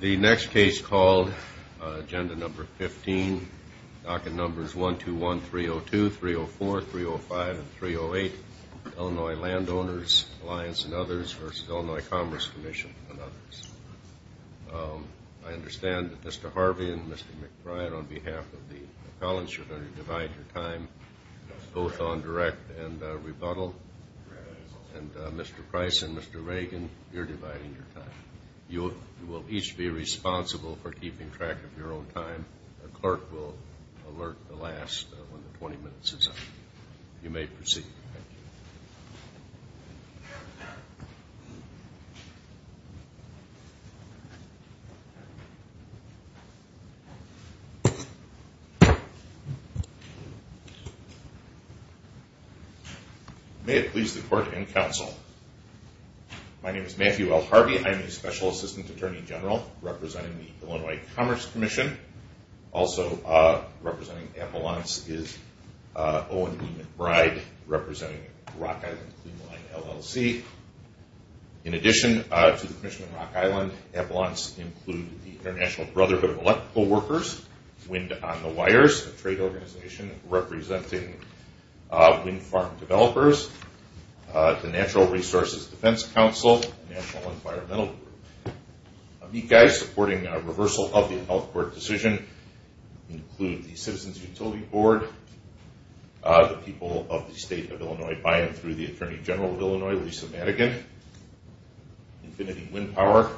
The next case called Agenda No. 15, Docket Numbers 121, 302, 304, 305, and 308, Illinois Landowners Alliance and Others v. Illinois Commerce Commission and Others. I understand that Mr. Harvey and Mr. McBride, on behalf of the appellants, you're going to divide your time both on direct and rebuttal. And Mr. Price and Mr. Reagan, you're dividing your time. You will each be responsible for keeping track of your own time. The clerk will alert the last when the 20 minutes is up. You may proceed. May it please the court and counsel, my name is Matthew L. Harvey. I'm the Special Assistant Attorney General representing the Illinois Commerce Commission. Also representing appellants is Owen B. McBride representing Rock Island Clean Line LLC. In addition to the Commission on Rock Island, appellants include the International Brotherhood of Electrical Workers, Wind on the Wires, a trade organization representing wind farm developers, the Natural Resources Defense Council, and the National Environmental Group. Amicus supporting reversal of the health court decision include the Citizens Utility Board, the people of the state of Illinois by and through the Attorney General of Illinois, Lisa Madigan, Infinity Wind Power,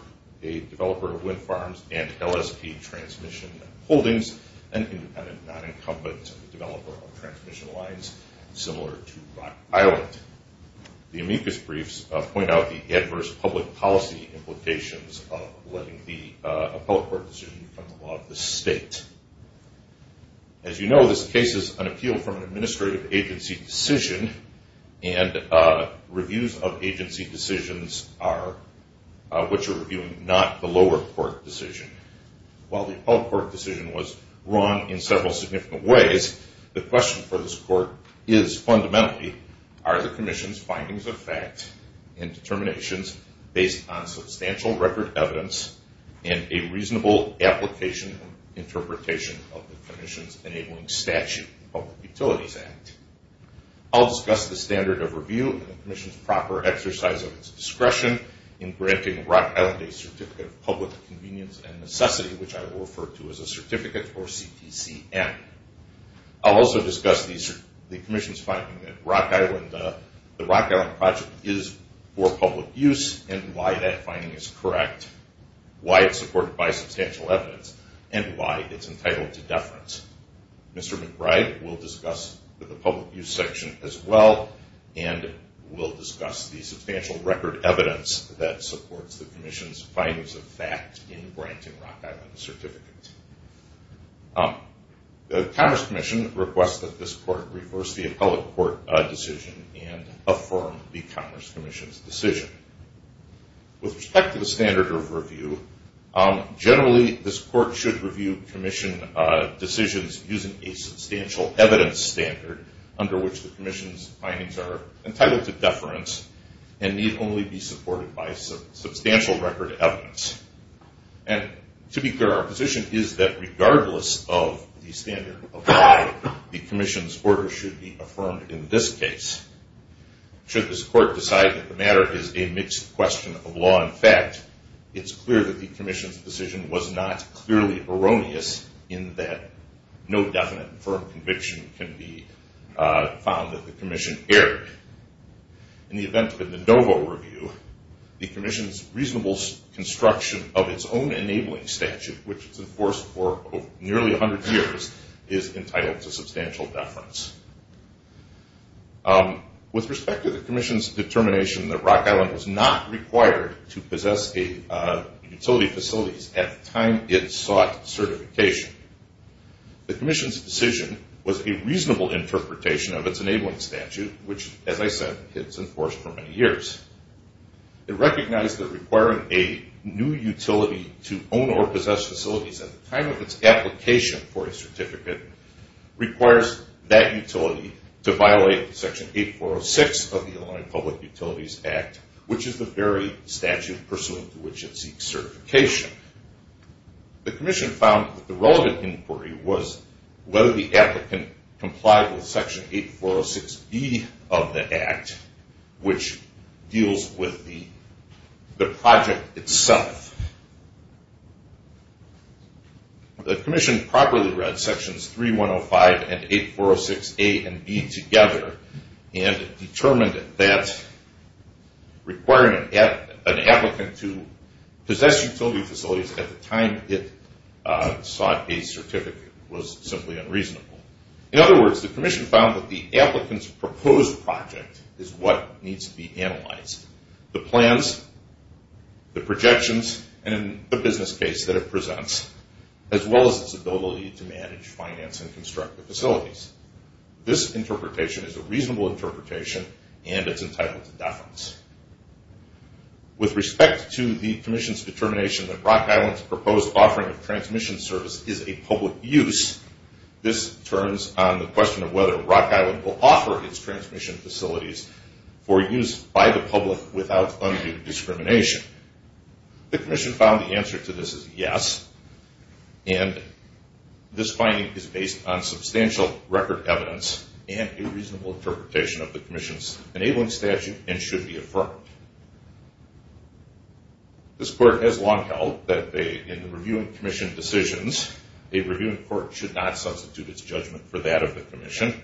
a developer of wind farms and LSP transmission holdings, and independent non-incumbent developer of transmission lines similar to Rock Island. The amicus briefs point out the adverse public policy implications of letting the appellate court decision become the law of the state. As you know, this case is an appeal from an administrative agency decision and reviews of agency decisions are, which are reviewing not the lower court decision. While the appellate court decision was wrong in several significant ways, the question for this court is fundamentally, are the Commission's findings of fact and determinations based on substantial record evidence and a reasonable application and interpretation of the Commission's enabling statute, Public Utilities Act. I'll discuss the standard of review and the Commission's proper exercise of its discretion in granting Rock Island a certificate of public convenience and necessity, which I will refer to as a certificate or CTCM. I'll also discuss the Commission's finding that the Rock Island project is for public use and why that finding is correct, why it's supported by substantial evidence, and why it's entitled to deference. Mr. McBride will discuss the public use section as well and will discuss the substantial record evidence that supports the Commission's findings of fact in granting Rock Island a certificate. The Commerce Commission requests that this court reverse the appellate court decision and affirm the Commerce Commission's decision. With respect to the standard of review, generally this court should review Commission decisions using a substantial evidence standard under which the Commission's findings are entitled to deference and need only be supported by substantial record evidence. And to be clear, our position is that regardless of the standard of why the Commission's order should be affirmed in this case, should this court decide that the matter is a mixed question of law and fact, it's clear that the Commission's decision was not clearly erroneous in that no definite and firm conviction can be found that the Commission erred. In the event of the Dovo review, the Commission's reasonable construction of its own enabling statute, which is enforced for nearly 100 years, is entitled to substantial deference. With respect to the Commission's determination that Rock Island was not required to possess utility facilities at the time it sought certification, the Commission's decision was a reasonable interpretation of its enabling statute, which, as I said, it's enforced for many years. It recognized that requiring a new utility to own or possess facilities at the time of its application for a certificate requires that utility to violate Section 8406 of the Illinois Public Utilities Act, which is the very statute pursuant to which it seeks certification. The Commission found that the relevant inquiry was whether the applicant complied with Section 8406B of the Act, which deals with the project itself. The Commission properly read Sections 3105 and 8406A and B together and determined that requiring an applicant to possess utility facilities at the time it sought a certificate was simply unreasonable. In other words, the Commission found that the applicant's proposed project is what needs to be analyzed, the plans, the projections, and in the business case that it presents, as well as its ability to manage, finance, and construct the facilities. This interpretation is a reasonable interpretation and it's entitled to deference. With respect to the Commission's determination that Rock Island's proposed offering of transmission service is a public use, this turns on the question of whether Rock Island will offer its transmission facilities for use by the public without undue discrimination. The Commission found the answer to this is yes, and this finding is based on substantial record evidence and a reasonable interpretation of the Commission's enabling statute and should be affirmed. This Court has long held that in the Reviewing Commission decisions, a Reviewing Court should not substitute its judgment for that of the Commission,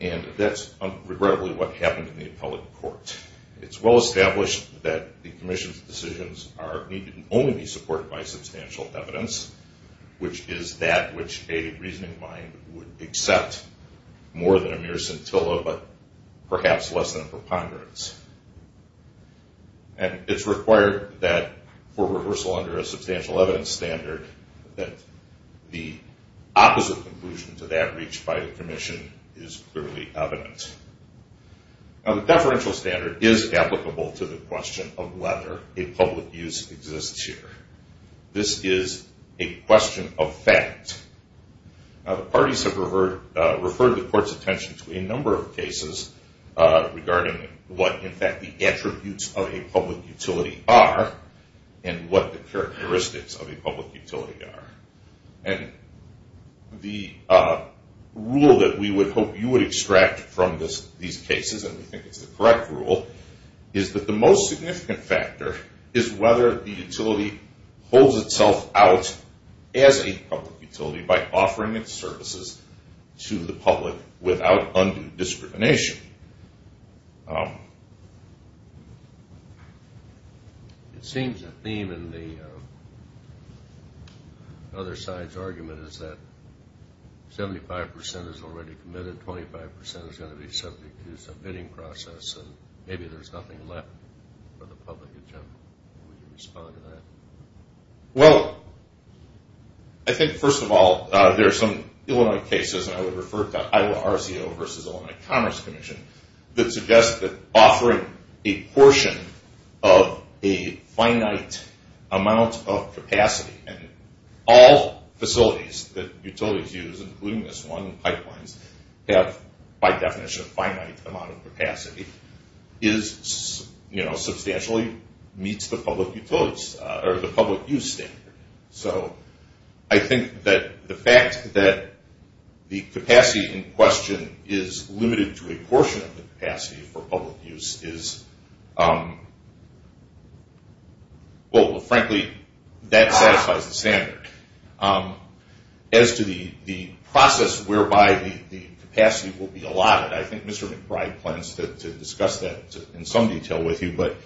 and that's regrettably what happened in the Appellate Court. It's well established that the Commission's decisions need to only be supported by substantial evidence, which is that which a reasoning mind would accept more than a mere scintilla, but perhaps less than a preponderance. And it's required that for rehearsal under a substantial evidence standard that the opposite conclusion to that reached by the Commission is clearly evident. Now the deferential standard is applicable to the question of whether a public use exists here. This is a question of fact. Now the parties have referred the Court's attention to a number of cases regarding what, in fact, the attributes of a public utility are and what the characteristics of a public utility are. And the rule that we would hope you would extract from these cases, and we think it's the correct rule, is that the most significant factor is whether the utility holds itself out as a public utility by offering its services to the public without undue discrimination. It seems the theme in the other side's argument is that 75% is already committed, 25% is going to be subject to submitting process, and maybe there's nothing left for the public agenda. Would you respond to that? Well, I think, first of all, there are some Illinois cases, and I would refer to Iowa RCO versus Illinois Commerce Commission, that suggest that offering a portion of a finite amount of capacity, and all facilities that utilities use, including this one, pipelines, have, by definition, a finite amount of capacity, substantially meets the public use standard. So I think that the fact that the capacity in question is limited to a portion of the capacity for public use is, well, frankly, that satisfies the standard. As to the process whereby the capacity will be allotted, I think Mr. McBride plans to discuss that in some detail with you, but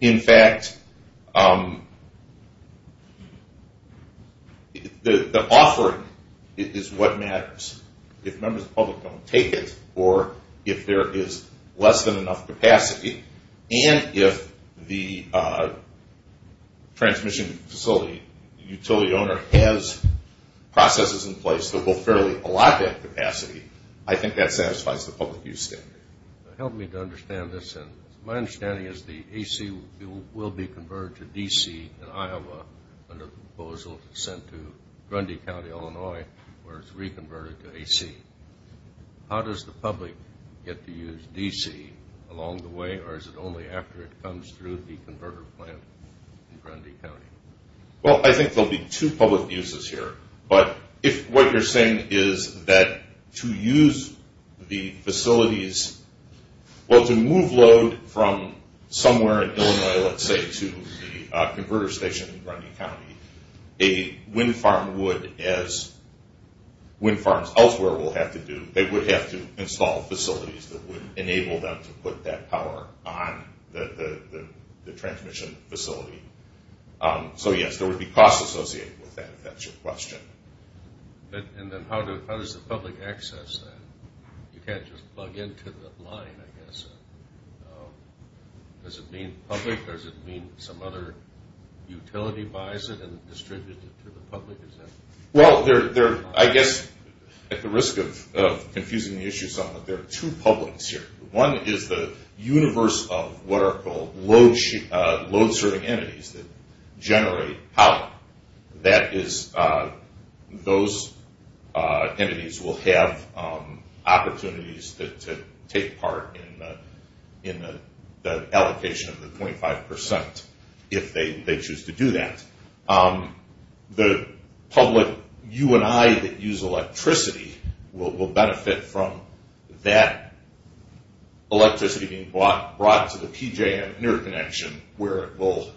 in fact, the offering is what matters. If members of the public don't take it, or if there is less than enough capacity, and if the transmission facility utility owner has processes in place that will fairly allot that capacity, I think that satisfies the public use standard. Help me to understand this, and my understanding is the AC will be converted to DC in Iowa under the proposal sent to Grundy County, Illinois, where it's reconverted to AC. How does the public get to use DC along the way, or is it only after it comes through the converter plant in Grundy County? Well, I think there'll be two public uses here, but if what you're saying is that to use the facilities, well, to move load from somewhere in Illinois, let's say, to the converter station in Grundy County, a wind farm would, as wind farms elsewhere will have to do, they would have to install facilities that would enable them to put that power on the transmission facility. So yes, there would be costs associated with that, if that's your question. And then how does the public access that? You can't just plug into the line, I guess. Does it mean public, or does it mean some other utility buys it and distributes it to the public? Well, I guess, at the risk of confusing the issue somewhat, there are two publics here. One is the universe of what are called load serving entities that generate power. Those entities will have opportunities to take part in the allocation of the 25% if they choose to do that. The public, you and I, that use electricity will benefit from that electricity being brought to the PJ and interconnection where it will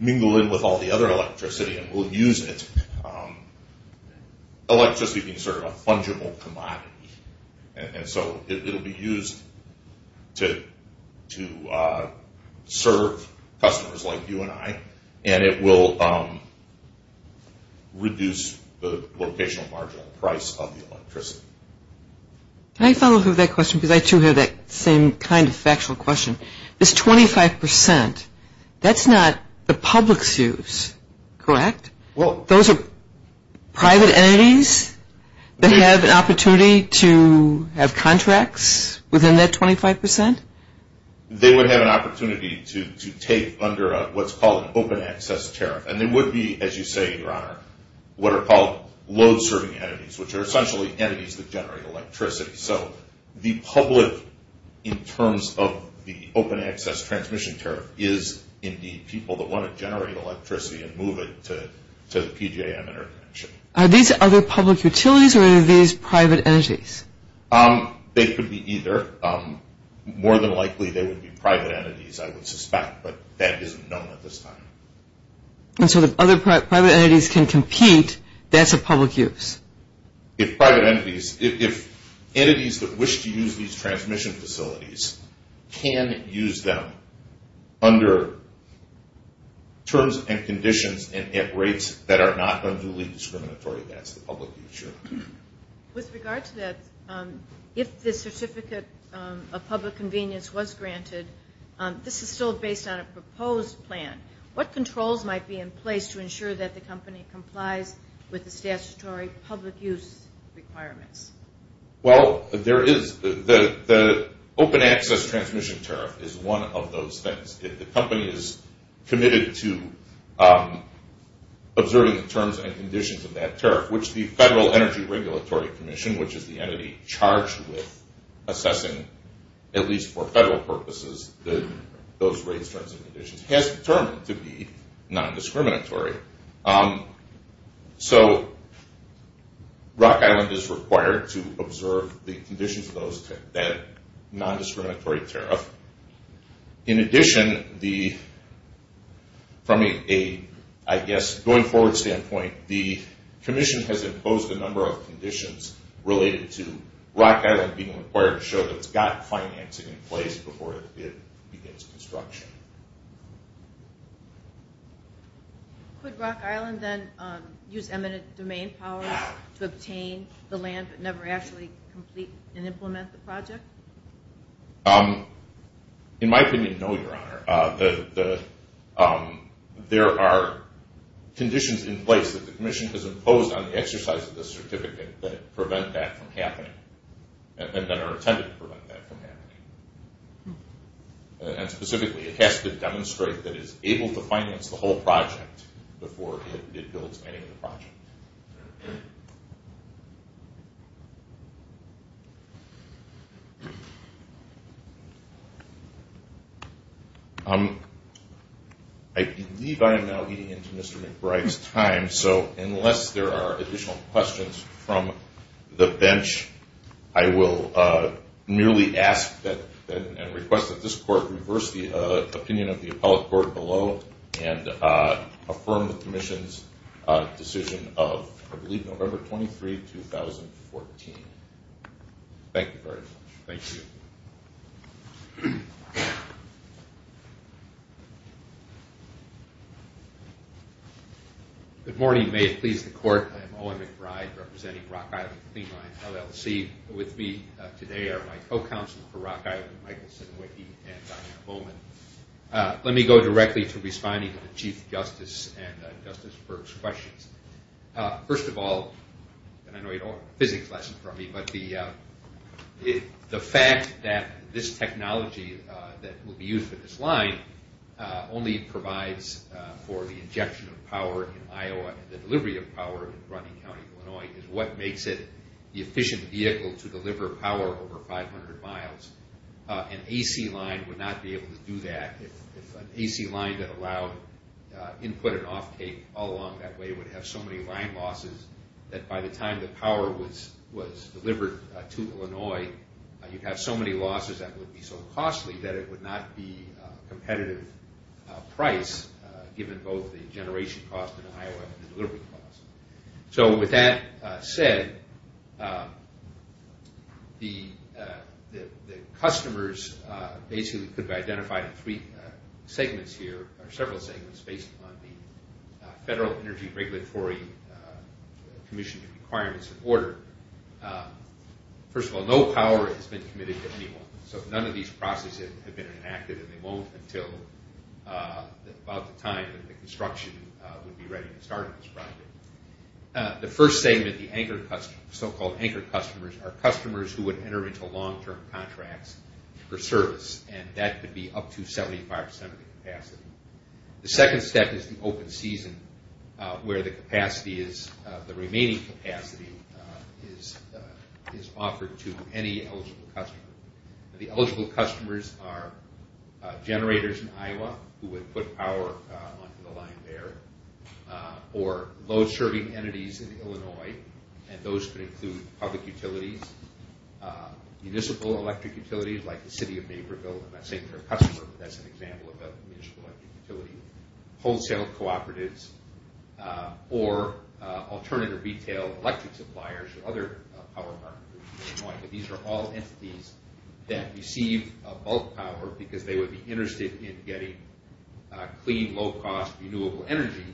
mingle in with all the other electricity and will use it. Electricity being sort of a fungible commodity, and so it will be used to serve customers like you and I, and it will reduce the location of marginal price of the electricity. Can I follow through with that question, because I too have that same kind of factual question. This 25%, that's not the public's use, correct? Well, those are private entities that have an opportunity to have contracts within that 25%? They would have an opportunity to take under what's called an open access tariff, and they would be, as you say, Your Honor, what are called load serving entities, which are essentially entities that generate electricity. So the public, in terms of the open access transmission tariff, is indeed people that want to generate electricity and move it to the PJ and interconnection. Are these other public utilities or are these private entities? They could be either. More than likely they would be private entities, I would suspect, but that isn't known at this time. And so if other private entities can compete, that's a public use? If private entities, if entities that wish to use these transmission facilities can use them under terms and conditions and at rates that are not unduly discriminatory, that's the public use, Your Honor. With regard to that, if the certificate of public convenience was granted, this is still based on a proposed plan. What controls might be in place to ensure that the company complies with the statutory public use requirements? Well, there is the open access transmission tariff is one of those things. If the company is committed to observing the terms and conditions of that tariff, which the Federal Energy Regulatory Commission, which is the entity charged with assessing, at least for Federal purposes, those rates, terms, and conditions, has determined to be non-discriminatory. So Rock Island is required to observe the conditions of that non-discriminatory tariff. In addition, from a, I guess, going forward standpoint, the commission has imposed a number of conditions related to Rock Island being required to show that it's got financing in place before it begins construction. Could Rock Island then use eminent domain powers to obtain the land but never actually complete and implement the project? In my opinion, no, Your Honor. There are conditions in place that the commission has imposed on the exercise of the certificate that prevent that from happening and that are intended to prevent that from happening. And specifically, it has to demonstrate that it's able to finance the whole project before it builds any other project. Thank you. I believe I am now eating into Mr. McBride's time, so unless there are additional questions from the bench, I will merely ask and request that this Court reverse the opinion of the appellate court below and affirm the commission's decision of, I believe, November 23, 2014. Thank you very much. Thank you. Good morning. May it please the Court. I am Owen McBride, representing Rock Island Cleanline LLC. With me today are my co-counsel for Rock Island, Michael Sednowicki and Donna Bowman. Let me go directly to responding to the Chief Justice and Justice Berg's questions. First of all, and I know you don't have a physics lesson from me, but the fact that this technology that will be used for this line only provides for the injection of power in Iowa and the delivery of power in Bronte County, Illinois, is what makes it the efficient vehicle to deliver power over 500 miles. An AC line would not be able to do that. If an AC line that allowed input and offtake all along that way would have so many line losses that by the time the power was delivered to Illinois, you'd have so many losses that would be so costly that it would not be a competitive price, given both the generation cost in Iowa and the delivery cost. With that said, the customers could be identified in several segments based on the Federal Energy Regulatory Commission requirements and order. First of all, no power has been committed to anyone, so none of these processes have been enacted, and they won't until about the time that the construction would be ready to start on this project. The first segment, the so-called anchor customers, are customers who would enter into long-term contracts for service, and that could be up to 75% of the capacity. The second step is the open season, where the remaining capacity is offered to any eligible customer. The eligible customers are generators in Iowa, who would put power onto the line there, or load-serving entities in Illinois, and those could include public utilities, municipal electric utilities like the City of Naperville, and I'm not saying they're a customer, but that's an example of a municipal electric utility, wholesale cooperatives, or alternative retail electric suppliers, but these are all entities that receive bulk power because they would be interested in getting clean, low-cost, renewable energy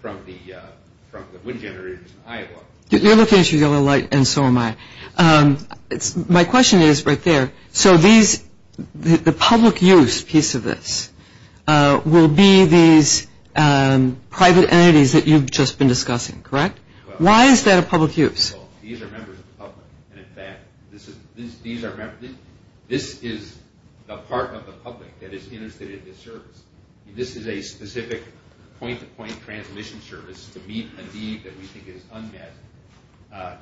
from the wind generators in Iowa. You're looking at your yellow light, and so am I. My question is right there. So the public use piece of this will be these private entities that you've just been discussing, correct? Why is that a public use? These are members of the public, and in fact, this is the part of the public that is interested in this service. This is a specific point-to-point transmission service to meet a need that we think is unmet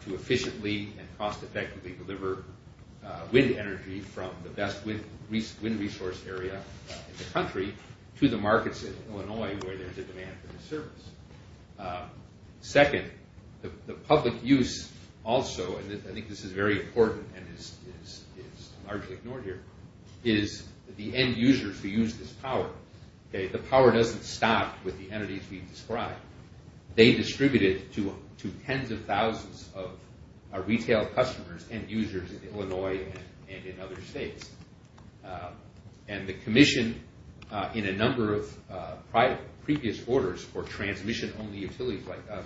to efficiently and cost-effectively deliver wind energy from the best wind resource area in the country to the markets in Illinois where there's a demand for this service. Second, the public use also, and I think this is very important and is largely ignored here, is the end users who use this power. The power doesn't stop with the entities we've described. They distribute it to tens of thousands of retail customers and users in Illinois and in other states, and the Commission, in a number of previous orders for transmission-only utilities like us,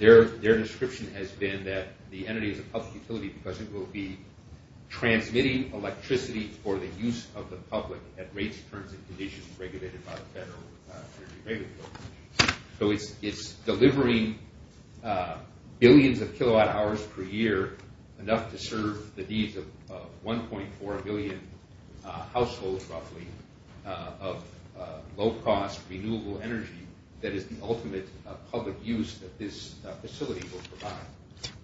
their description has been that the entity is a public utility because it will be transmitting electricity for the use of the public at rates, terms, and conditions regulated by the Federal Energy Regulatory Commission. So it's delivering billions of kilowatt hours per year, enough to serve the needs of 1.4 billion households, roughly, of low-cost renewable energy that is the ultimate public use that this facility will provide.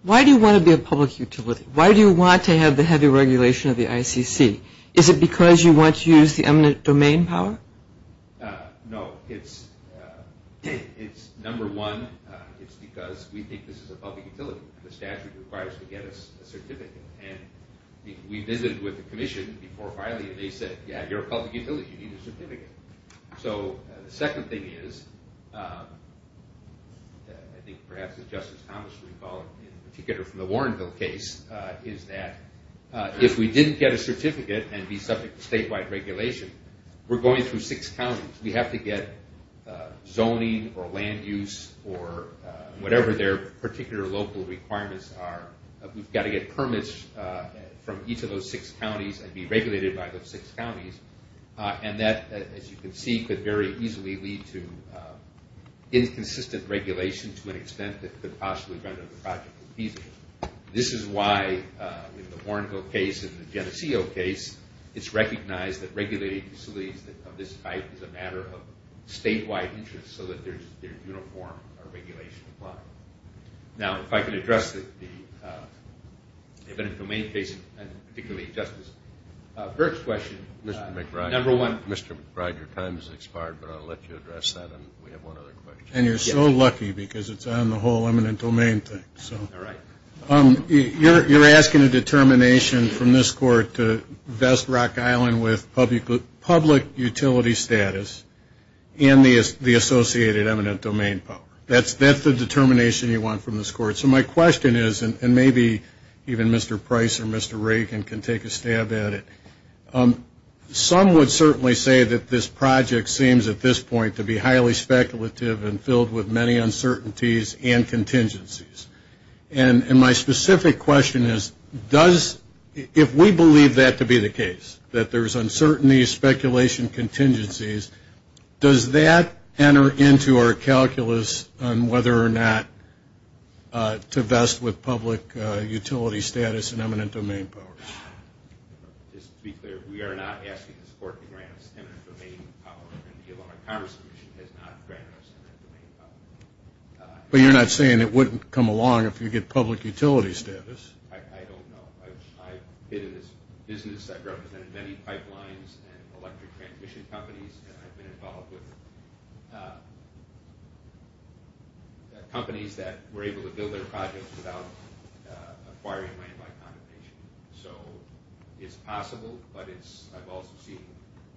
Why do you want to be a public utility? Why do you want to have the heavy regulation of the ICC? Is it because you want to use the eminent domain power? No, it's number one, it's because we think this is a public utility. The statute requires to get us a certificate, and we visited with the Commission before filing, and they said, yeah, you're a public utility, you need a certificate. So the second thing is, I think perhaps as Justice Thomas would recall, in particular from the Warrenville case, is that if we didn't get a certificate and be subject to statewide regulation, we're going through six counties. We have to get zoning or land use or whatever their particular local requirements are. We've got to get permits from each of those six counties and be regulated by those six counties, and that, as you can see, could very easily lead to inconsistent regulation to an extent that could possibly render the project feasible. This is why, in the Warrenville case and the Geneseo case, it's recognized that regulating facilities of this type is a matter of statewide interest so that they're uniform or regulation compliant. Now, if I could address the eminent domain case, and particularly Justice Burke's question. Mr. McBride, your time has expired, but I'll let you address that, and we have one other question. And you're so lucky because it's on the whole eminent domain thing. You're asking a determination from this Court to vest Rock Island with public utility status and the associated eminent domain power. That's the determination you want from this Court. So my question is, and maybe even Mr. Price or Mr. Reagan can take a stab at it, some would certainly say that this project seems at this point to be highly speculative and filled with many uncertainties and contingencies. And my specific question is, if we believe that to be the case, that there's uncertainty, speculation, contingencies, does that enter into our calculus on whether or not to vest with public utility status and eminent domain power? Just to be clear, we are not asking this Court to grant us eminent domain power, and the Illinois Commerce Commission has not granted us eminent domain power. But you're not saying it wouldn't come along if you get public utility status? I don't know. I've been in this business. I've represented many pipelines and electric transmission companies, and I've been involved with companies that were able to build their projects without acquiring land by compensation. So it's possible, but I've also seen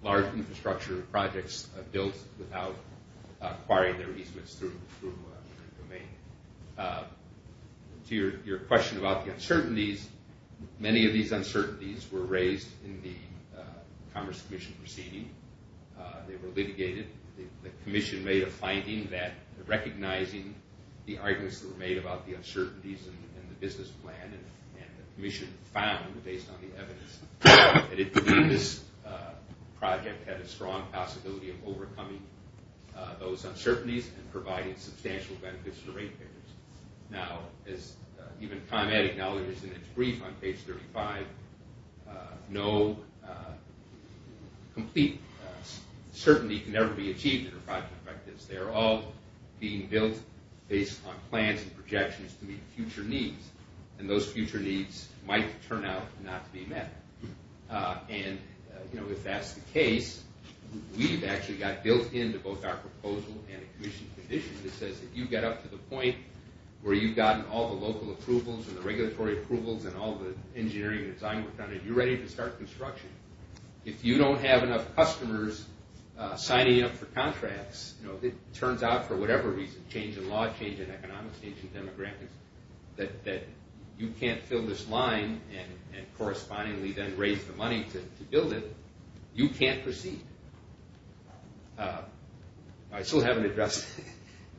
large infrastructure projects built without acquiring their easements through domain. To your question about the uncertainties, many of these uncertainties were raised in the Commerce Commission proceeding. They were litigated. The Commission made a finding that recognizing the arguments that were made about the uncertainties in the business plan, and the Commission found, based on the evidence, that it believed this project had a strong possibility of overcoming those uncertainties and providing substantial benefits for ratepayers. Now, as even ComEd acknowledges in its brief on page 35, no complete certainty can ever be achieved in a project like this. They're all being built based on plans and projections to meet future needs, and those future needs might turn out not to be met. And if that's the case, we've actually got built into both our proposal and a Commission condition that says that you get up to the point where you've gotten all the local approvals and the regulatory approvals and all the engineering and design work done, and you're ready to start construction. If you don't have enough customers signing up for contracts, it turns out for whatever reason, change in law, change in economics, change in demographics, that you can't fill this line and correspondingly then raise the money to build it. You can't proceed. I still haven't addressed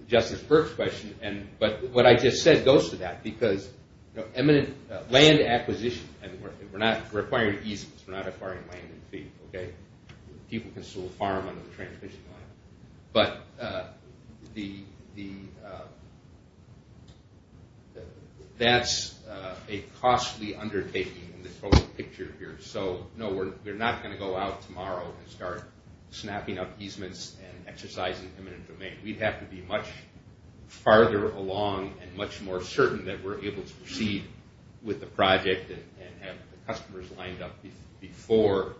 Justice Burke's question, but what I just said goes to that because land acquisition, we're not requiring easements. We're not requiring land and feed. People can still farm under the transmission line. But that's a costly undertaking in the total picture here. So, no, we're not going to go out tomorrow and start snapping up easements and exercising eminent domain. We'd have to be much farther along and much more certain that we're able to proceed with the project and have the customers lined up before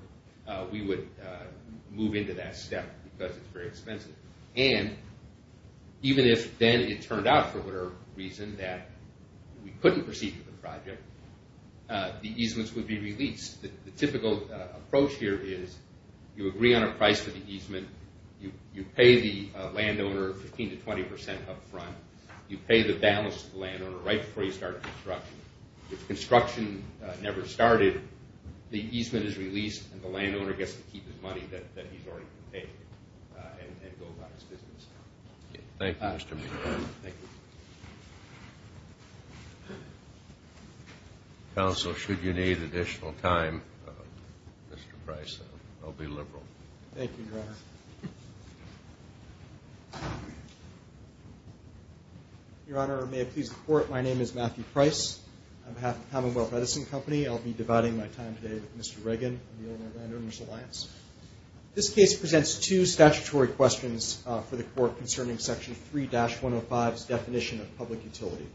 we would move into that step because it's very expensive. And even if then it turned out for whatever reason that we couldn't proceed with the project, the easements would be released. The typical approach here is you agree on a price for the easement. You pay the landowner 15% to 20% up front. You pay the balance to the landowner right before you start construction. If construction never started, the easement is released, and the landowner gets to keep his money that he's already paid and go about his business. Thank you, Mr. Meehan. Thank you. Counsel, should you need additional time, Mr. Price, I'll be liberal. Thank you, Your Honor. Your Honor, may it please the Court, my name is Matthew Price. On behalf of the Commonwealth Medicine Company, I'll be dividing my time today with Mr. Reagan, the owner of Landowners Alliance. This case presents two statutory questions for the Court concerning Section 3-105's definition of public utility.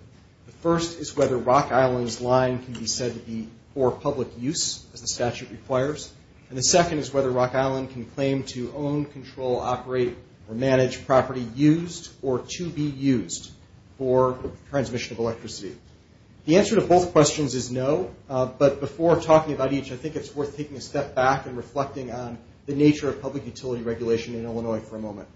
The first is whether Rock Island's line can be said to be for public use, as the statute requires, and the second is whether Rock Island can claim to own, control, operate, or manage property used or to be used for transmission of electricity. The answer to both questions is no, but before talking about each, I think it's worth taking a step back and reflecting on the nature of public utility regulation in Illinois for a moment.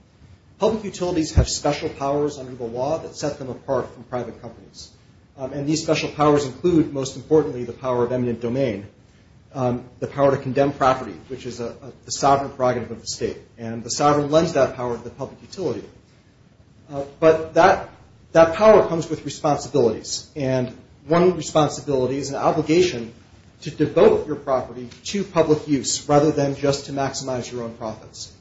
Public utilities have special powers under the law that set them apart from private companies, and these special powers include, most importantly, the power of eminent domain, the power to condemn property, which is the sovereign prerogative of the state, and the sovereign lends that power to the public utility. But that power comes with responsibilities, and one responsibility is an obligation to devote your property to public use rather than just to maximize your own profits.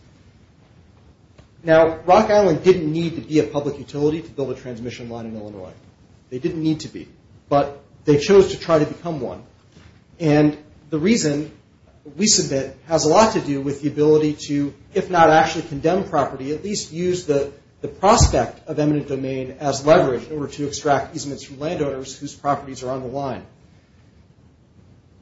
Now, Rock Island didn't need to be a public utility to build a transmission line in Illinois. They didn't need to be, but they chose to try to become one, and the reason we submit has a lot to do with the ability to, if not actually condemn property, at least use the prospect of eminent domain as leverage in order to extract easements from landowners whose properties are on the line.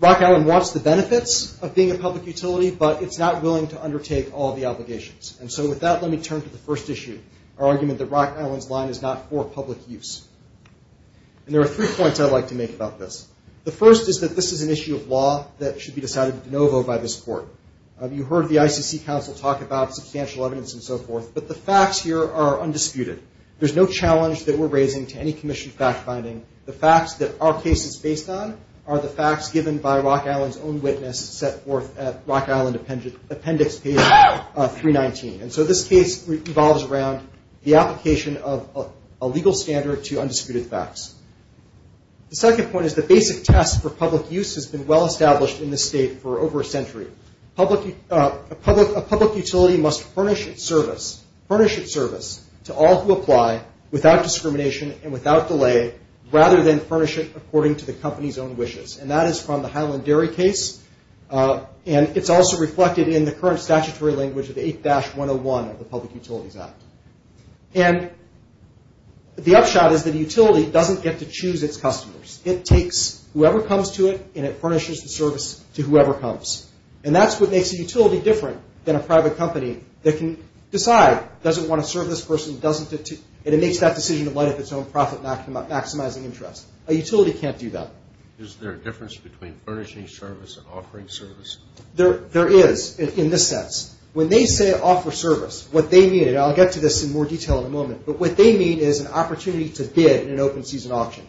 Rock Island wants the benefits of being a public utility, but it's not willing to undertake all the obligations, and so with that, let me turn to the first issue, our argument that Rock Island's line is not for public use. And there are three points I'd like to make about this. The first is that this is an issue of law that should be decided de novo by this court. You heard the ICC counsel talk about substantial evidence and so forth, but the facts here are undisputed. There's no challenge that we're raising to any commission fact-finding. The facts that our case is based on are the facts given by Rock Island's own witness set forth at Rock Island appendix page 319. And so this case revolves around the application of a legal standard to undisputed facts. The second point is the basic test for public use has been well-established in this state for over a century. A public utility must furnish its service to all who apply without discrimination and without delay rather than furnish it according to the company's own wishes, and that is from the Highland Dairy case, and it's also reflected in the current statutory language of the 8-101 of the Public Utilities Act. And the upshot is that a utility doesn't get to choose its customers. It takes whoever comes to it, and it furnishes the service to whoever comes, and that's what makes a utility different than a private company that can decide, doesn't want to serve this person, and it makes that decision in light of its own profit maximizing interest. A utility can't do that. Is there a difference between furnishing service and offering service? There is in this sense. When they say offer service, what they mean, and I'll get to this in more detail in a moment, but what they mean is an opportunity to bid in an open season auction.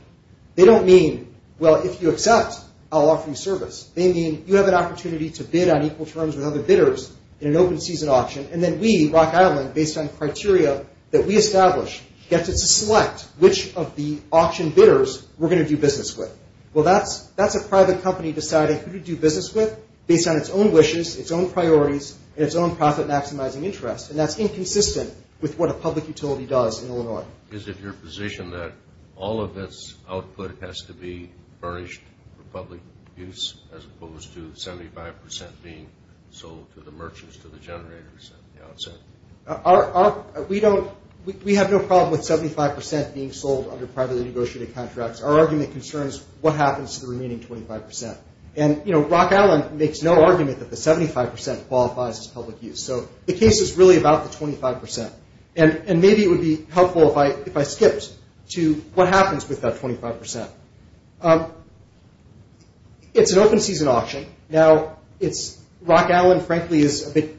They don't mean, well, if you accept, I'll offer you service. They mean you have an opportunity to bid on equal terms with other bidders in an open season auction, and then we, Rock Island, based on criteria that we establish, get to select which of the auction bidders we're going to do business with. Well, that's a private company deciding who to do business with based on its own wishes, its own priorities, and its own profit maximizing interest, and that's inconsistent with what a public utility does in Illinois. Is it your position that all of this output has to be furnished for public use as opposed to 75% being sold to the merchants, to the generators at the outset? We have no problem with 75% being sold under privately negotiated contracts. Our argument concerns what happens to the remaining 25%. And, you know, Rock Island makes no argument that the 75% qualifies as public use. So the case is really about the 25%, and maybe it would be helpful if I skipped to what happens with that 25%. It's an open season auction. Now, Rock Island, frankly, is a bit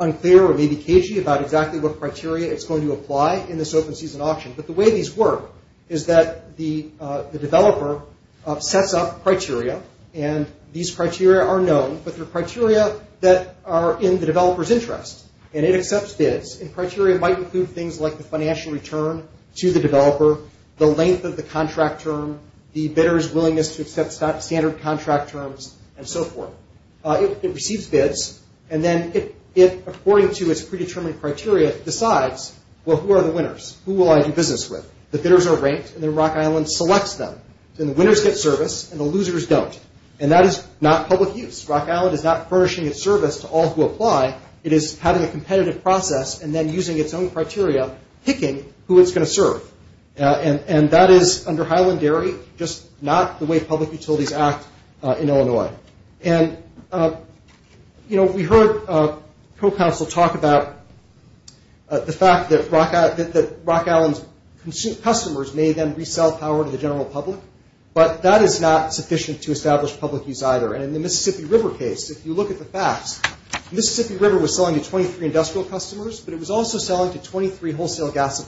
unclear, or maybe cagey, about exactly what criteria it's going to apply in this open season auction. But the way these work is that the developer sets up criteria, and these criteria are known, but they're criteria that are in the developer's interest, and it accepts bids. And criteria might include things like the financial return to the developer, the length of the contract term, the bidder's willingness to accept standard contract terms, and so forth. It receives bids, and then it, according to its predetermined criteria, decides, well, who are the winners? Who will I do business with? The bidders are ranked, and then Rock Island selects them. Then the winners get service, and the losers don't. And that is not public use. Rock Island is not furnishing its service to all who apply. It is having a competitive process, and then using its own criteria, picking who it's going to serve. And that is, under Highland Dairy, just not the way public utilities act in Illinois. And, you know, we heard co-counsel talk about the fact that Rock Island's customers may then resell power to the general public, but that is not sufficient to establish public use either. And in the Mississippi River case, if you look at the facts, the Mississippi River was selling to 23 industrial customers, but it was also selling to two wholesale gas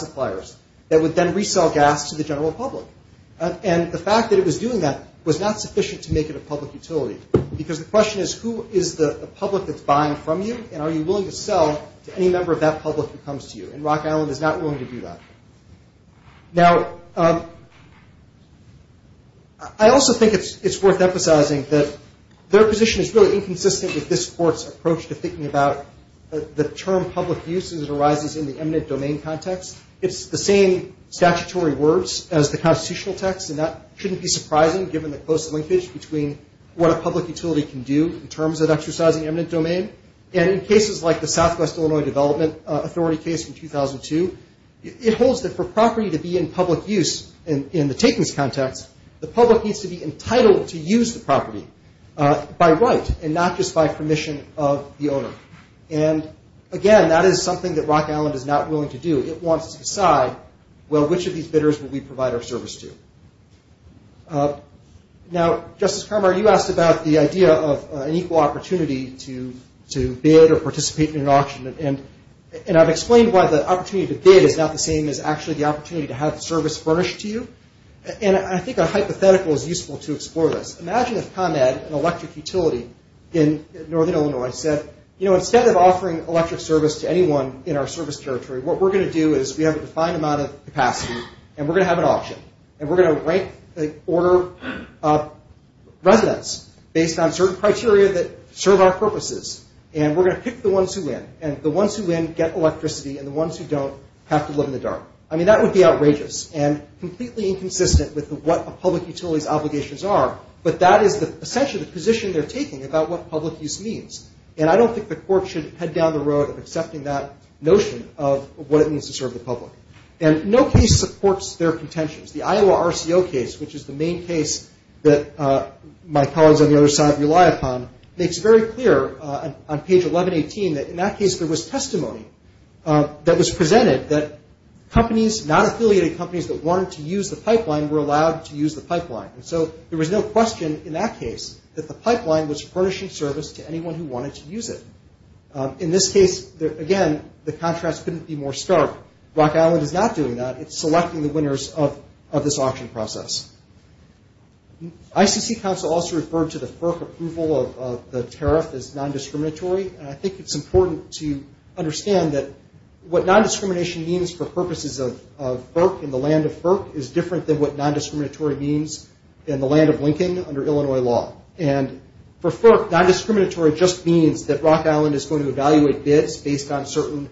suppliers that would then resell gas to the general public. And the fact that it was doing that was not sufficient to make it a public utility, because the question is, who is the public that's buying from you, and are you willing to sell to any member of that public who comes to you? And Rock Island is not willing to do that. Now, I also think it's worth emphasizing that their position is really inconsistent with this Court's approach to thinking about the term public use as it arises in the eminent domain context. It's the same statutory words as the constitutional text, and that shouldn't be surprising given the close linkage between what a public utility can do in terms of exercising eminent domain. And in cases like the Southwest Illinois Development Authority case from 2002, it holds that for property to be in public use in the takings context, the public needs to be entitled to use the property by right and not just by permission of the owner. And again, that is something that Rock Island is not willing to do. It wants to decide, well, which of these bidders will we provide our service to? Now, Justice Carmar, you asked about the idea of an equal opportunity to bid or participate in an auction, and I've explained why the opportunity to bid is not the same as actually the opportunity to have the service furnished to you. And I think a hypothetical is useful to explore this. Imagine if ComEd, an electric utility in Northern Illinois, said, you know, instead of offering electric service to anyone in our service territory, what we're going to do is we have a defined amount of capacity, and we're going to have an auction, and we're going to rank the order of residents based on certain criteria that serve our purposes, and we're going to pick the ones who win, and the ones who win get electricity, and the ones who don't have to live in the dark. I mean, that would be outrageous and completely inconsistent with what a public utility's obligations are, but that is essentially the position they're taking about what public use means, and I don't think the court should head down the road of accepting that notion of what it means to serve the public. And no case supports their contentions. The Iowa RCO case, which is the main case that my colleagues on the other side rely upon, makes very clear on page 1118 that in that case there was testimony that was presented that companies, non-affiliated companies that wanted to use the pipeline were allowed to use the pipeline, and so there was no question in that case that the pipeline was furnishing service to anyone who wanted to use it. In this case, again, the contrast couldn't be more stark. Rock Island is not doing that. It's selecting the winners of this auction process. ICC counsel also referred to the FERC approval of the tariff as non-discriminatory, and I think it's important to understand that what non-discrimination means for purposes of FERC and the land of FERC is different than what non-discriminatory means in the land of Lincoln under Illinois law. And for FERC, non-discriminatory just means that Rock Island is going to evaluate bids based on certain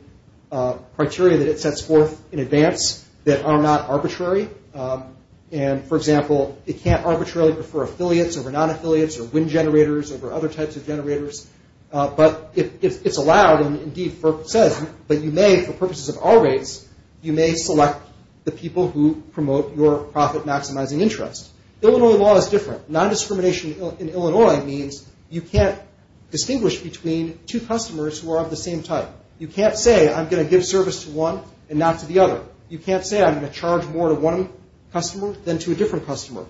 criteria that it sets forth in advance that are not arbitrary. And, for example, it can't arbitrarily prefer affiliates over non-affiliates or wind generators over other types of generators. But it's allowed, and indeed FERC says, but you may, for purposes of our rates, you may select the people who promote your profit-maximizing interest. Illinois law is different. Non-discrimination in Illinois means you can't distinguish between two customers who are of the same type. You can't say, I'm going to give service to one and not to the other. You can't say, I'm going to charge more to one customer than to a different customer.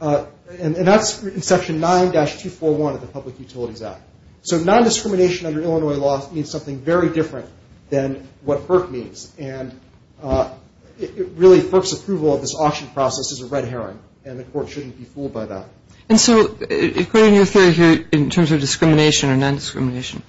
And that's in Section 9-241 of the Public Utilities Act. So non-discrimination under Illinois law means something very different than what FERC means. And really, FERC's approval of this auction process is a red herring, and the court shouldn't be fooled by that. And so according to your theory here in terms of discrimination or non-discrimination,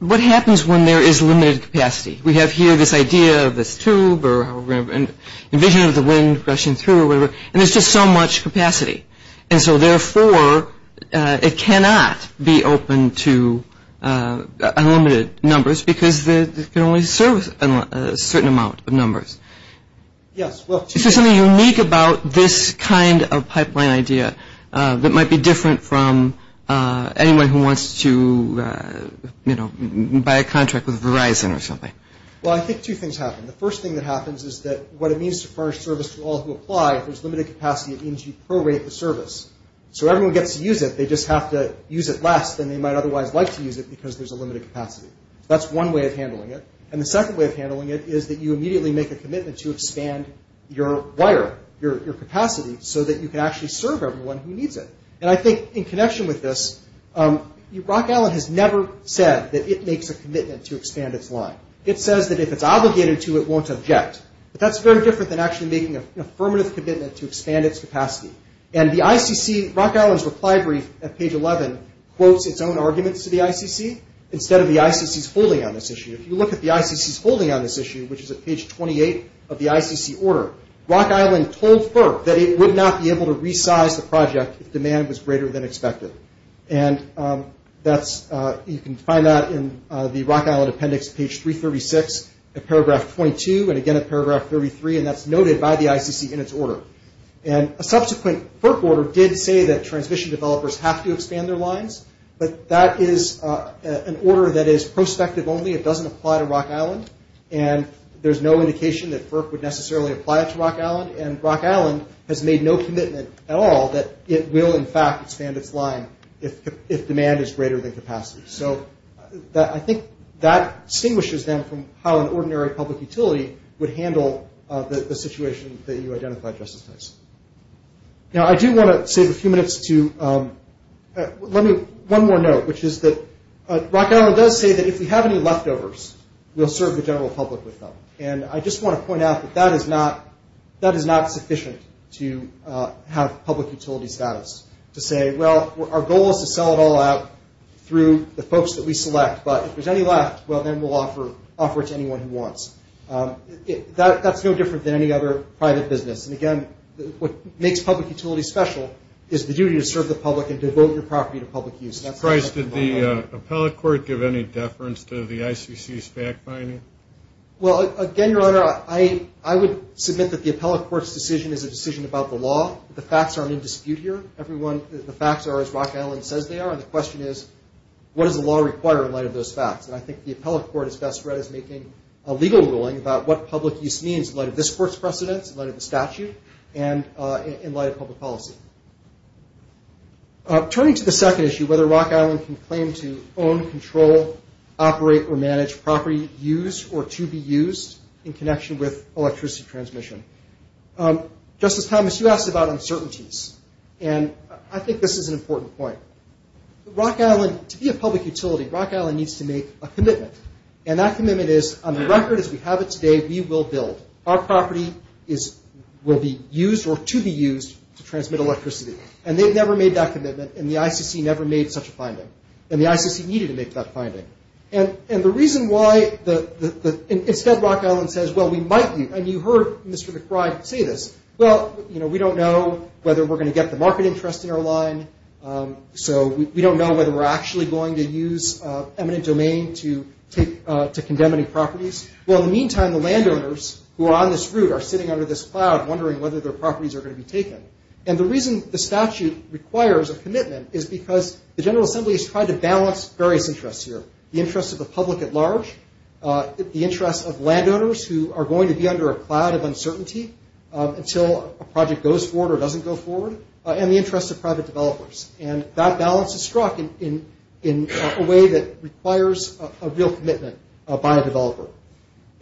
what happens when there is limited capacity? We have here this idea of this tube or how we're going to envision the wind rushing through or whatever, and there's just so much capacity. And so therefore, it cannot be open to unlimited numbers because it can only serve a certain amount of numbers. Is there something unique about this kind of pipeline idea that might be different from anyone who wants to, you know, buy a contract with Verizon or something? Well, I think two things happen. The first thing that happens is that what it means to furnish service to all who apply, if there's limited capacity, it means you prorate the service. So everyone gets to use it. They just have to use it less than they might otherwise like to use it because there's a limited capacity. That's one way of handling it. And the second way of handling it is that you immediately make a commitment to expand your wire, your capacity, so that you can actually serve everyone who needs it. And I think in connection with this, Rock Island has never said that it makes a commitment to expand its line. It says that if it's obligated to, it won't object. But that's very different than actually making an affirmative commitment to expand its capacity. And the ICC, Rock Island's reply brief at page 11 quotes its own arguments to the ICC instead of the ICC's holding on this issue. If you look at the ICC's holding on this issue, which is at page 28 of the ICC order, Rock Island told FERC that it would not be able to resize the project if demand was greater than expected. And you can find that in the Rock Island appendix, page 336, at paragraph 22, and again at paragraph 33, and that's noted by the ICC in its order. And a subsequent FERC order did say that transmission developers have to expand their lines, but that is an order that is prospective only. It doesn't apply to Rock Island, and there's no indication that FERC would necessarily apply it to Rock Island. And Rock Island has made no commitment at all that it will, in fact, expand its line if demand is greater than capacity. So I think that distinguishes them from how an ordinary public utility would handle the situation that you identified, Justice Tyson. Now, I do want to save a few minutes to – let me – one more note, which is that Rock Island does say that if we have any leftovers, we'll serve the general public with them. And I just want to point out that that is not sufficient to have public utility status, to say, well, our goal is to sell it all out through the folks that we select, but if there's any left, well, then we'll offer it to anyone who wants. That's no different than any other private business. And, again, what makes public utility special is the duty to serve the public and devote your property to public use. Mr. Price, did the appellate court give any deference to the ICC's fact-finding? Well, again, Your Honor, I would submit that the appellate court's decision is a decision about the law. The facts aren't in dispute here. The facts are as Rock Island says they are, and the question is, what does the law require in light of those facts? And I think the appellate court is best read as making a legal ruling about what public use means in light of this court's precedents, in light of the statute, and in light of public policy. Turning to the second issue, whether Rock Island can claim to own, control, operate, or manage property used or to be used in connection with electricity transmission. Justice Thomas, you asked about uncertainties, and I think this is an important point. Rock Island, to be a public utility, Rock Island needs to make a commitment, and that commitment is, on the record as we have it today, we will build. Our property will be used or to be used to transmit electricity. And they've never made that commitment, and the ICC never made such a finding. And the ICC needed to make that finding. And the reason why, instead, Rock Island says, well, we might be, and you heard Mr. McBride say this, well, you know, we don't know whether we're going to get the market interest in our line, so we don't know whether we're actually going to use eminent domain to condemn any properties. Well, in the meantime, the landowners who are on this route are sitting under this cloud, wondering whether their properties are going to be taken. And the reason the statute requires a commitment is because the General Assembly has tried to balance various interests here, the interest of the public at large, the interest of landowners who are going to be under a cloud of uncertainty until a project goes forward or doesn't go forward, and the interest of private developers. And that balance is struck in a way that requires a real commitment by a developer.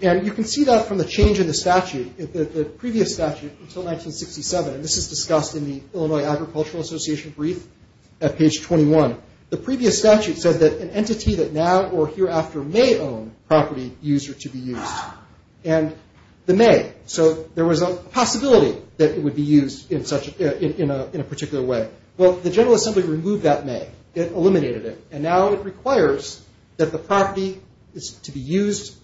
And you can see that from the change in the statute, the previous statute until 1967, and this is discussed in the Illinois Agricultural Association brief at page 21. The previous statute said that an entity that now or hereafter may own property used or to be used. And they may. So there was a possibility that it would be used in a particular way. Well, the General Assembly removed that may. It eliminated it. And now it requires that the property is to be used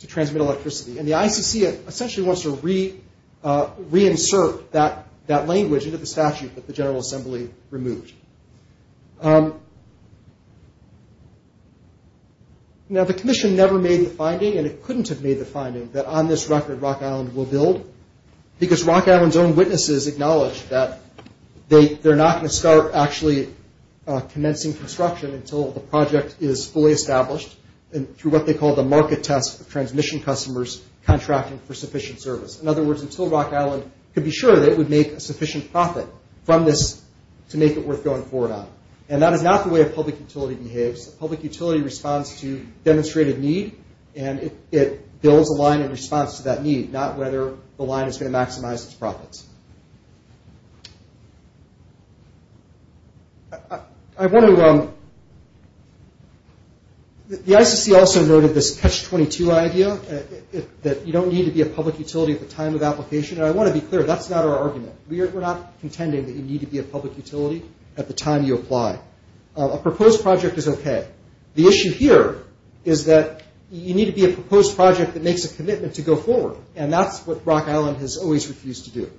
to transmit electricity. And the ICC essentially wants to reinsert that language into the statute that the General Assembly removed. Now, the commission never made the finding, and it couldn't have made the finding, that on this record, Rock Island will build. Because Rock Island's own witnesses acknowledged that they're not going to start actually commencing construction until the project is fully established through what they call the market test of transmission customers contracting for sufficient service. In other words, until Rock Island could be sure that it would make a sufficient profit from this to make it worth going forward on. And that is not the way a public utility behaves. A public utility responds to demonstrated need, and it builds a line in response to that need, not whether the line is going to maximize its profits. I want to – the ICC also noted this catch-22 idea, that you don't need to be a public utility at the time of application. And I want to be clear, that's not our argument. We're not contending that you need to be a public utility at the time you apply. A proposed project is okay. The issue here is that you need to be a proposed project that makes a commitment to go forward, and that's what Rock Island has always refused to do.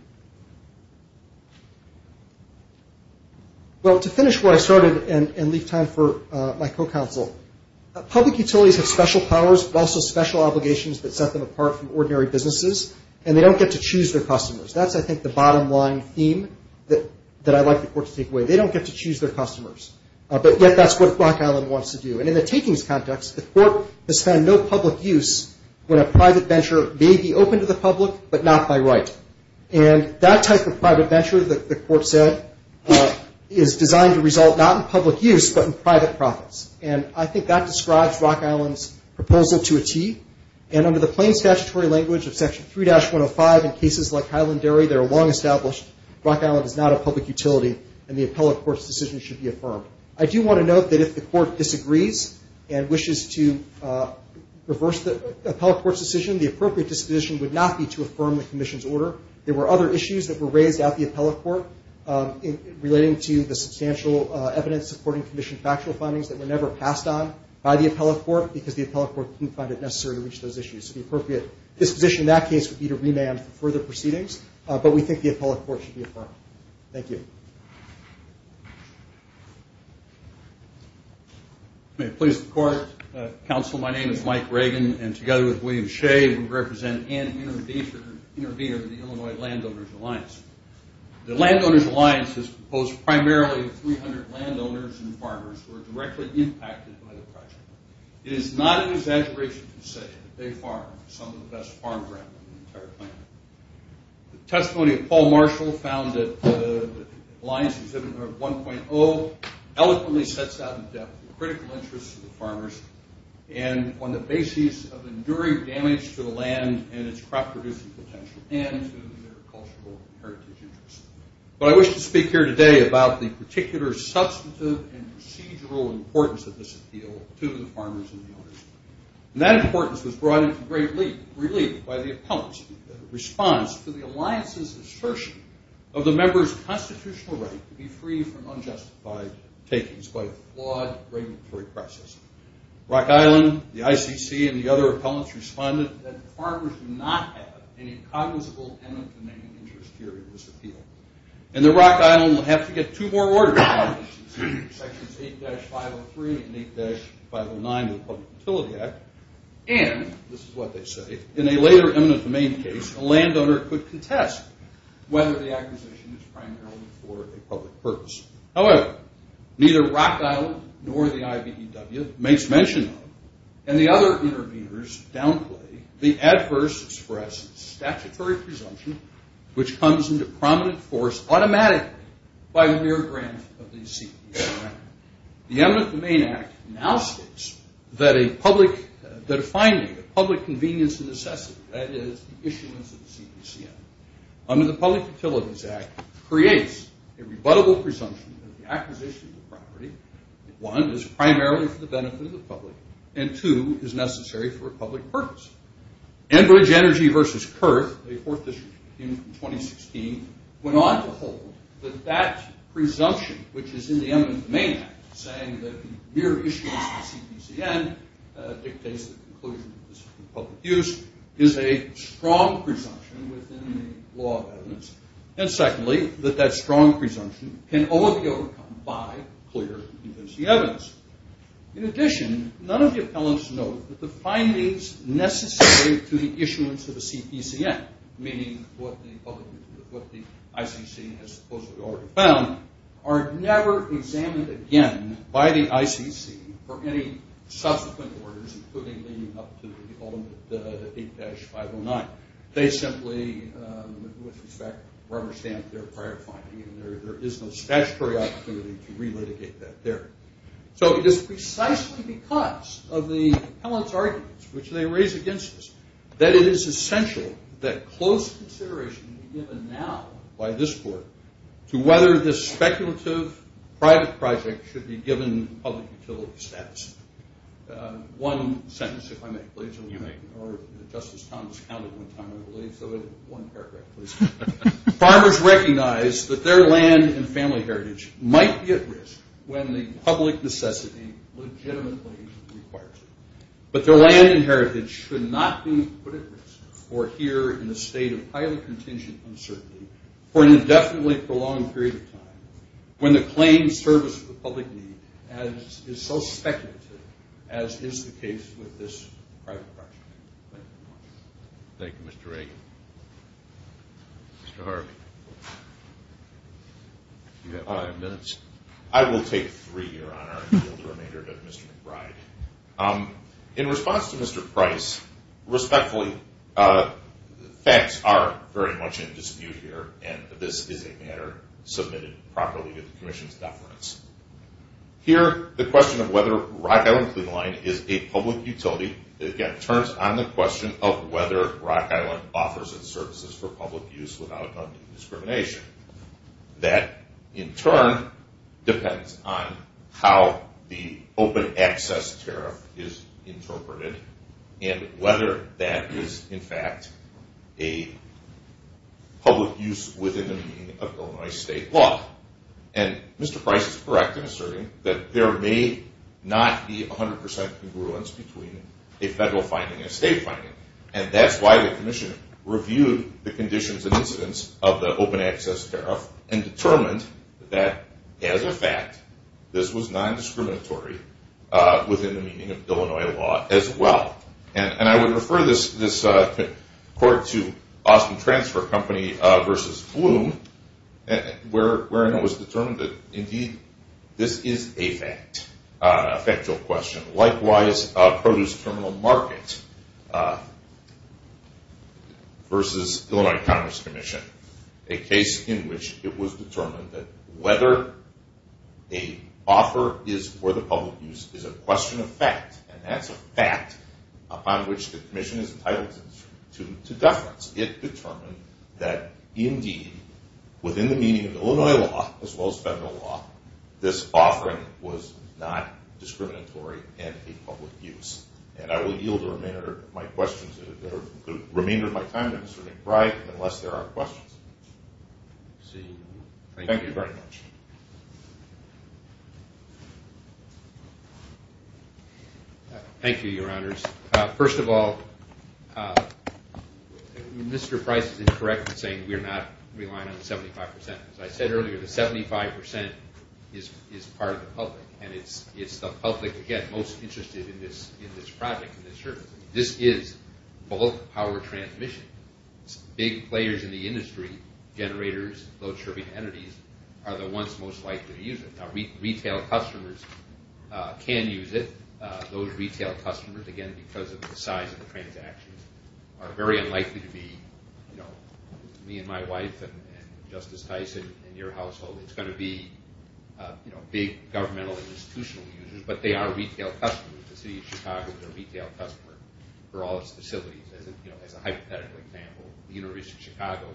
Well, to finish where I started and leave time for my co-counsel, public utilities have special powers but also special obligations that set them apart from ordinary businesses, and they don't get to choose their customers. That's, I think, the bottom line theme that I'd like the court to take away. They don't get to choose their customers, but yet that's what Rock Island wants to do. And in the takings context, the court has found no public use when a private venture may be open to the public but not by right. And that type of private venture, the court said, is designed to result not in public use but in private profits. And I think that describes Rock Island's proposal to a T. And under the plain statutory language of Section 3-105 in cases like Highland Dairy that are long established, Rock Island is not a public utility, and the appellate court's decision should be affirmed. I do want to note that if the court disagrees and wishes to reverse the appellate court's decision, the appropriate disposition would not be to affirm the commission's order. There were other issues that were raised at the appellate court relating to the substantial evidence supporting the commission's factual findings that were never passed on by the appellate court because the appellate court didn't find it necessary to reach those issues. So the appropriate disposition in that case would be to remand for further proceedings, but we think the appellate court should be affirmed. Thank you. May it please the court. Counsel, my name is Mike Reagan, and together with William Shea, we represent and intervener in the Illinois Landowners' Alliance. The Landowners' Alliance has proposed primarily 300 landowners and farmers who are directly impacted by the project. It is not an exaggeration to say that they farm some of the best farm ground on the entire planet. The testimony of Paul Marshall found that the Alliance Exhibit 1.0 eloquently sets out in depth the critical interests of the farmers and on the basis of enduring damage to the land and its crop-producing potential and to their cultural and heritage interests. But I wish to speak here today about the particular substantive and procedural importance of this appeal to the farmers and the owners. And that importance was brought into great relief by the appellants in response to the Alliance's assertion of the members' constitutional right to be free from unjustified takings by a flawed regulatory process. Rock Island, the ICC, and the other appellants responded that the farmers do not have any cognizable element of the main interest here in this appeal. And that Rock Island will have to get two more orders from the ICC, Sections 8-503 and 8-509 of the Public Utility Act. And, this is what they say, in a later eminent domain case, a landowner could contest whether the acquisition is primarily for a public purpose. However, neither Rock Island nor the IBEW makes mention of, and the other interveners downplay, the adverse express statutory presumption which comes into prominent force automatically by the mere grant of the CPCM. The Eminent Domain Act now states that a public, that a finding of public convenience and necessity, that is, the issuance of the CPCM, under the Public Utilities Act, creates a rebuttable presumption that the acquisition of the property, one, is primarily for the benefit of the public, and two, is necessary for a public purpose. Enbridge Energy v. Kerr, a fourth district in 2016, went on to hold that that presumption, which is in the Eminent Domain Act, saying that the mere issuance of the CPCM dictates the conclusion of public use, is a strong presumption within the law of evidence, and secondly, that that strong presumption can only be overcome by clear, convincing evidence. In addition, none of the appellants note that the findings necessary to the issuance of a CPCM, meaning what the public, what the ICC has supposedly already found, are never examined again by the ICC for any subsequent orders, including leading up to the ultimate, the 8-509. They simply, with respect, rubber stamp their prior finding, and there is no statutory opportunity to relitigate that there. So it is precisely because of the appellant's arguments, which they raise against us, that it is essential that close consideration be given now by this court to whether this speculative private project should be given public utility status. One sentence, if I may, please, or Justice Thomas counted one time, I believe, so one paragraph, please. Farmers recognize that their land and family heritage might be at risk when the public necessity legitimately requires it. But their land and heritage should not be put at risk, or here in a state of highly contingent uncertainty, for an indefinitely prolonged period of time, when the claimed service of the public need is so speculative, as is the case with this private project. Thank you. Thank you, Mr. Reagan. Mr. Harvey. You have five minutes. I will take three, Your Honor, and give the remainder to Mr. McBride. In response to Mr. Price, respectfully, facts are very much in dispute here, and this is a matter submitted properly to the commission's deference. Here, the question of whether Rock Island Cleanline is a public utility, again, turns on the question of whether Rock Island offers its services for public use without undue discrimination. That, in turn, depends on how the open access tariff is interpreted and whether that is, in fact, a public use within the meaning of Illinois state law. And Mr. Price is correct in asserting that there may not be 100% congruence between a federal finding and a state finding, and that's why the commission reviewed the conditions and incidents of the open access tariff and determined that, as a fact, this was non-discriminatory within the meaning of Illinois law as well. And I would refer this report to Austin Transfer Company versus Bloom, wherein it was determined that, indeed, this is a fact, a factual question. Likewise, Produce Terminal Market versus Illinois Commerce Commission, a case in which it was determined that whether an offer is for the public use is a question of fact, and that's a fact upon which the commission is entitled to deference. It determined that, indeed, within the meaning of Illinois law as well as federal law, this offering was not discriminatory in a public use. And I will yield the remainder of my time to Mr. McBride unless there are questions. Thank you very much. Thank you, Your Honors. First of all, Mr. Price is incorrect in saying we're not relying on 75%. As I said earlier, the 75% is part of the public, and it's the public, again, most interested in this project and this service. This is bulk power transmission. It's big players in the industry, generators, load-shipping entities, are the ones most likely to use it. Now, retail customers can use it. Those retail customers, again, because of the size of the transactions, are very unlikely to be me and my wife and Justice Tyson and your household. It's going to be big governmental and institutional users, but they are retail customers. The city of Chicago is a retail customer for all its facilities. As a hypothetical example, the University of Chicago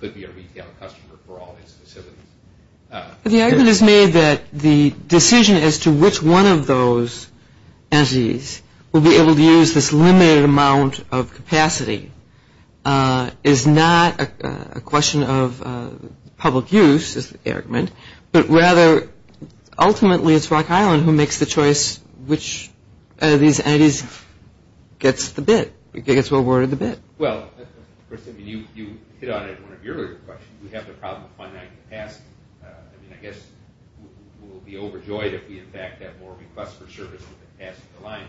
could be a retail customer for all its facilities. The argument is made that the decision as to which one of those entities will be able to use this limited amount of capacity is not a question of public use, is the argument, but rather ultimately it's Rock Island who makes the choice which of these entities gets the bid, gets awarded the bid. Well, you hit on it in one of your earlier questions. We have the problem of finite capacity. I mean, I guess we'll be overjoyed if we in fact have more requests for service with the capacity aligned,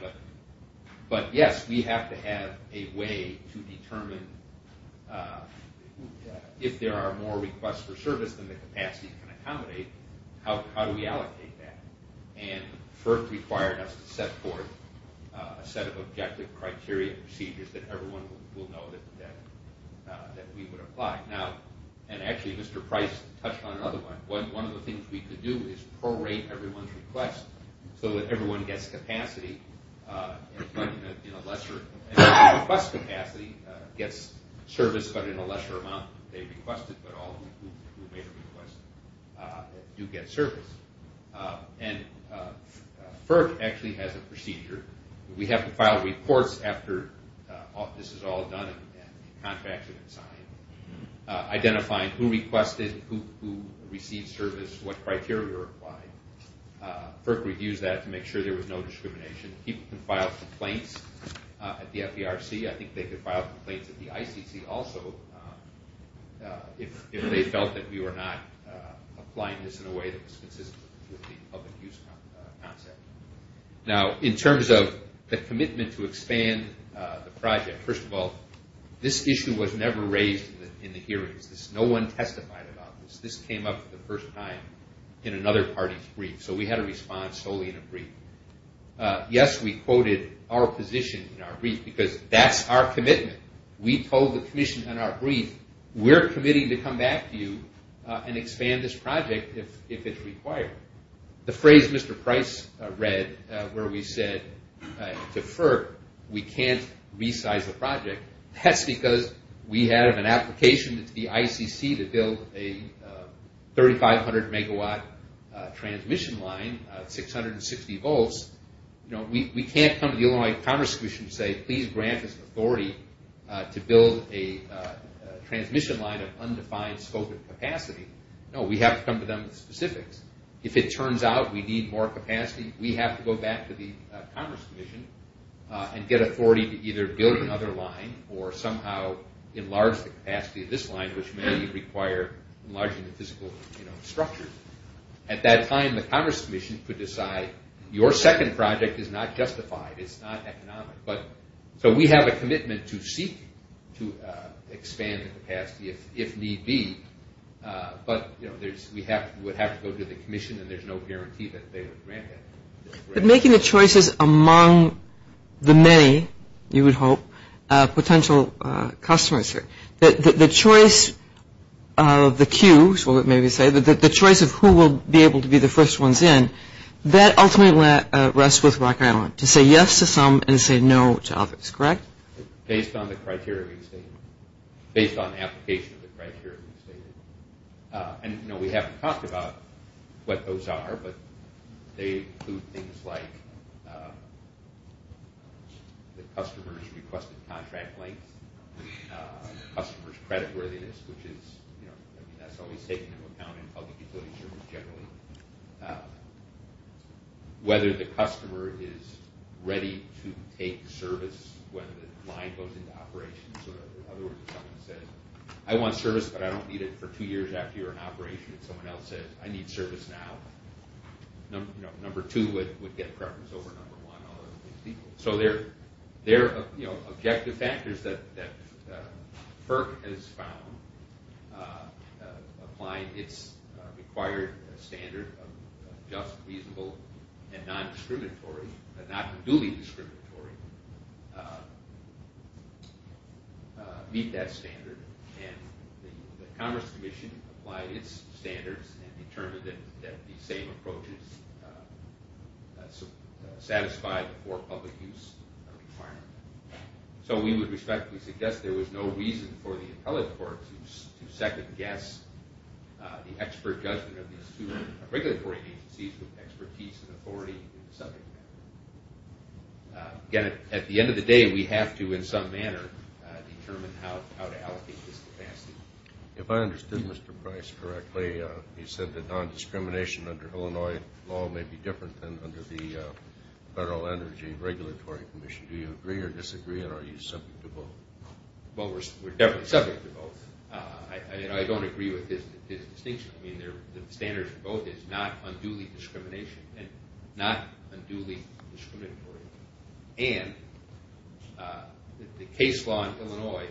but yes, we have to have a way to determine if there are more requests for service than the capacity can accommodate, how do we allocate that? FERC required us to set forth a set of objective criteria and procedures that everyone will know that we would apply. Actually, Mr. Price touched on another one. One of the things we could do is pro-rate everyone's request so that everyone gets capacity in a lesser amount. Request capacity gets service, but in a lesser amount than they requested, but all who made a request do get service. And FERC actually has a procedure. We have to file reports after this is all done and contracts have been signed identifying who requested, who received service, what criteria were applied. FERC reviews that to make sure there was no discrimination. People can file complaints at the FDRC. I think they could file complaints at the ICC also if they felt that we were not applying this in a way that was consistent with the public use concept. Now, in terms of the commitment to expand the project, first of all, this issue was never raised in the hearings. No one testified about this. This came up for the first time in another party's brief, so we had a response solely in a brief. Yes, we quoted our position in our brief because that's our commitment. We told the commission in our brief, we're committing to come back to you and expand this project if it's required. The phrase Mr. Price read where we said to FERC we can't resize the project, that's because we have an application to the ICC to build a 3,500 megawatt transmission line, 660 volts. We can't come to the Illinois Commerce Commission and say please grant us authority to build a transmission line of undefined scope and capacity. No, we have to come to them with specifics. If it turns out we need more capacity, we have to go back to the Commerce Commission and get authority to either build another line or somehow enlarge the capacity of this line, which may require enlarging the physical structure. At that time, the Commerce Commission could decide your second project is not justified, it's not economic. So we have a commitment to seek to expand the capacity if need be, but we would have to go to the commission and there's no guarantee that they would grant it. But making the choices among the many, you would hope, potential customers here, the choice of the queues, or let me say the choice of who will be able to be the first ones in, that ultimately rests with Rock Island to say yes to some and say no to others, correct? Based on the criteria we stated. Based on the application of the criteria we stated. And no, we haven't talked about what those are, but they include things like the customer's requested contract length, customer's credit worthiness, which is, you know, that's always taken into account in public utility service generally. Whether the customer is ready to take service when the line goes into operation. So in other words, if someone says, I want service but I don't need it for two years after you're in operation, and someone else says, I need service now, number two would get preference over number one. So there are objective factors that FERC has found, applying its required standard of just, reasonable, and non-discriminatory, not duly discriminatory, meet that standard. And the Commerce Commission applied its standards and determined that the same approach is satisfied for public use requirement. So we would respectfully suggest there was no reason for the appellate court to second-guess the expert judgment of these two regulatory agencies with expertise and authority in the subject matter. Again, at the end of the day, we have to, in some manner, determine how to allocate this capacity. If I understood Mr. Price correctly, he said that non-discrimination under Illinois law may be different than under the Federal Energy Regulatory Commission. Do you agree or disagree, or are you subject to both? Well, we're definitely subject to both. I don't agree with his distinction. The standard for both is not unduly discrimination and not unduly discriminatory. And the case law in Illinois,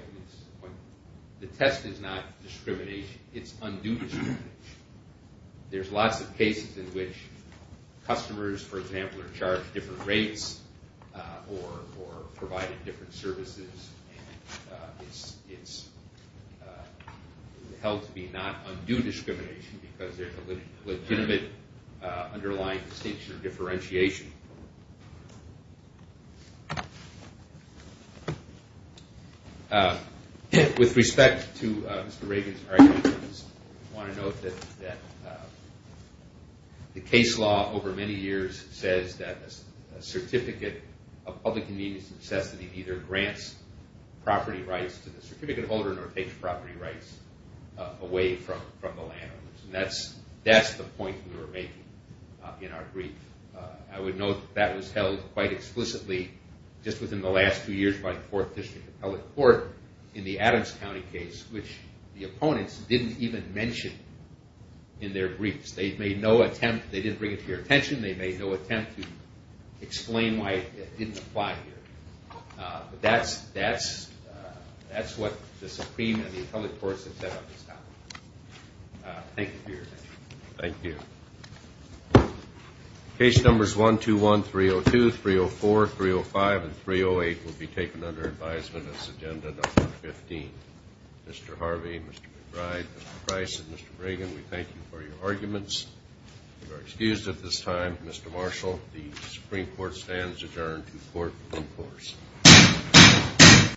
the test is not discrimination. It's unduly discrimination. There's lots of cases in which customers, for example, are charged different rates or provided different services, and it's held to be not unduly discrimination because there's a legitimate underlying distinction or differentiation. With respect to Mr. Reagan's argument, I just want to note that the case law, over many years, says that a certificate of public convenience and necessity either grants property rights to the certificate holder or takes property rights away from the landowners. And that's the point we were making in our brief. I would note that that was held quite explicitly just within the last two years by the Fourth District Appellate Court in the Adams County case, which the opponents didn't even mention in their briefs. They didn't bring it to your attention. They made no attempt to explain why it didn't apply here. But that's what the Supreme and the Appellate Courts have said on this topic. Thank you for your attention. Thank you. Case Numbers 121, 302, 304, 305, and 308 will be taken under advisement as Agenda Number 15. Mr. Harvey, Mr. McBride, Mr. Price, and Mr. Reagan, we thank you for your arguments. You are excused at this time. Mr. Marshall, the Supreme Court stands adjourned to Court of Appeals.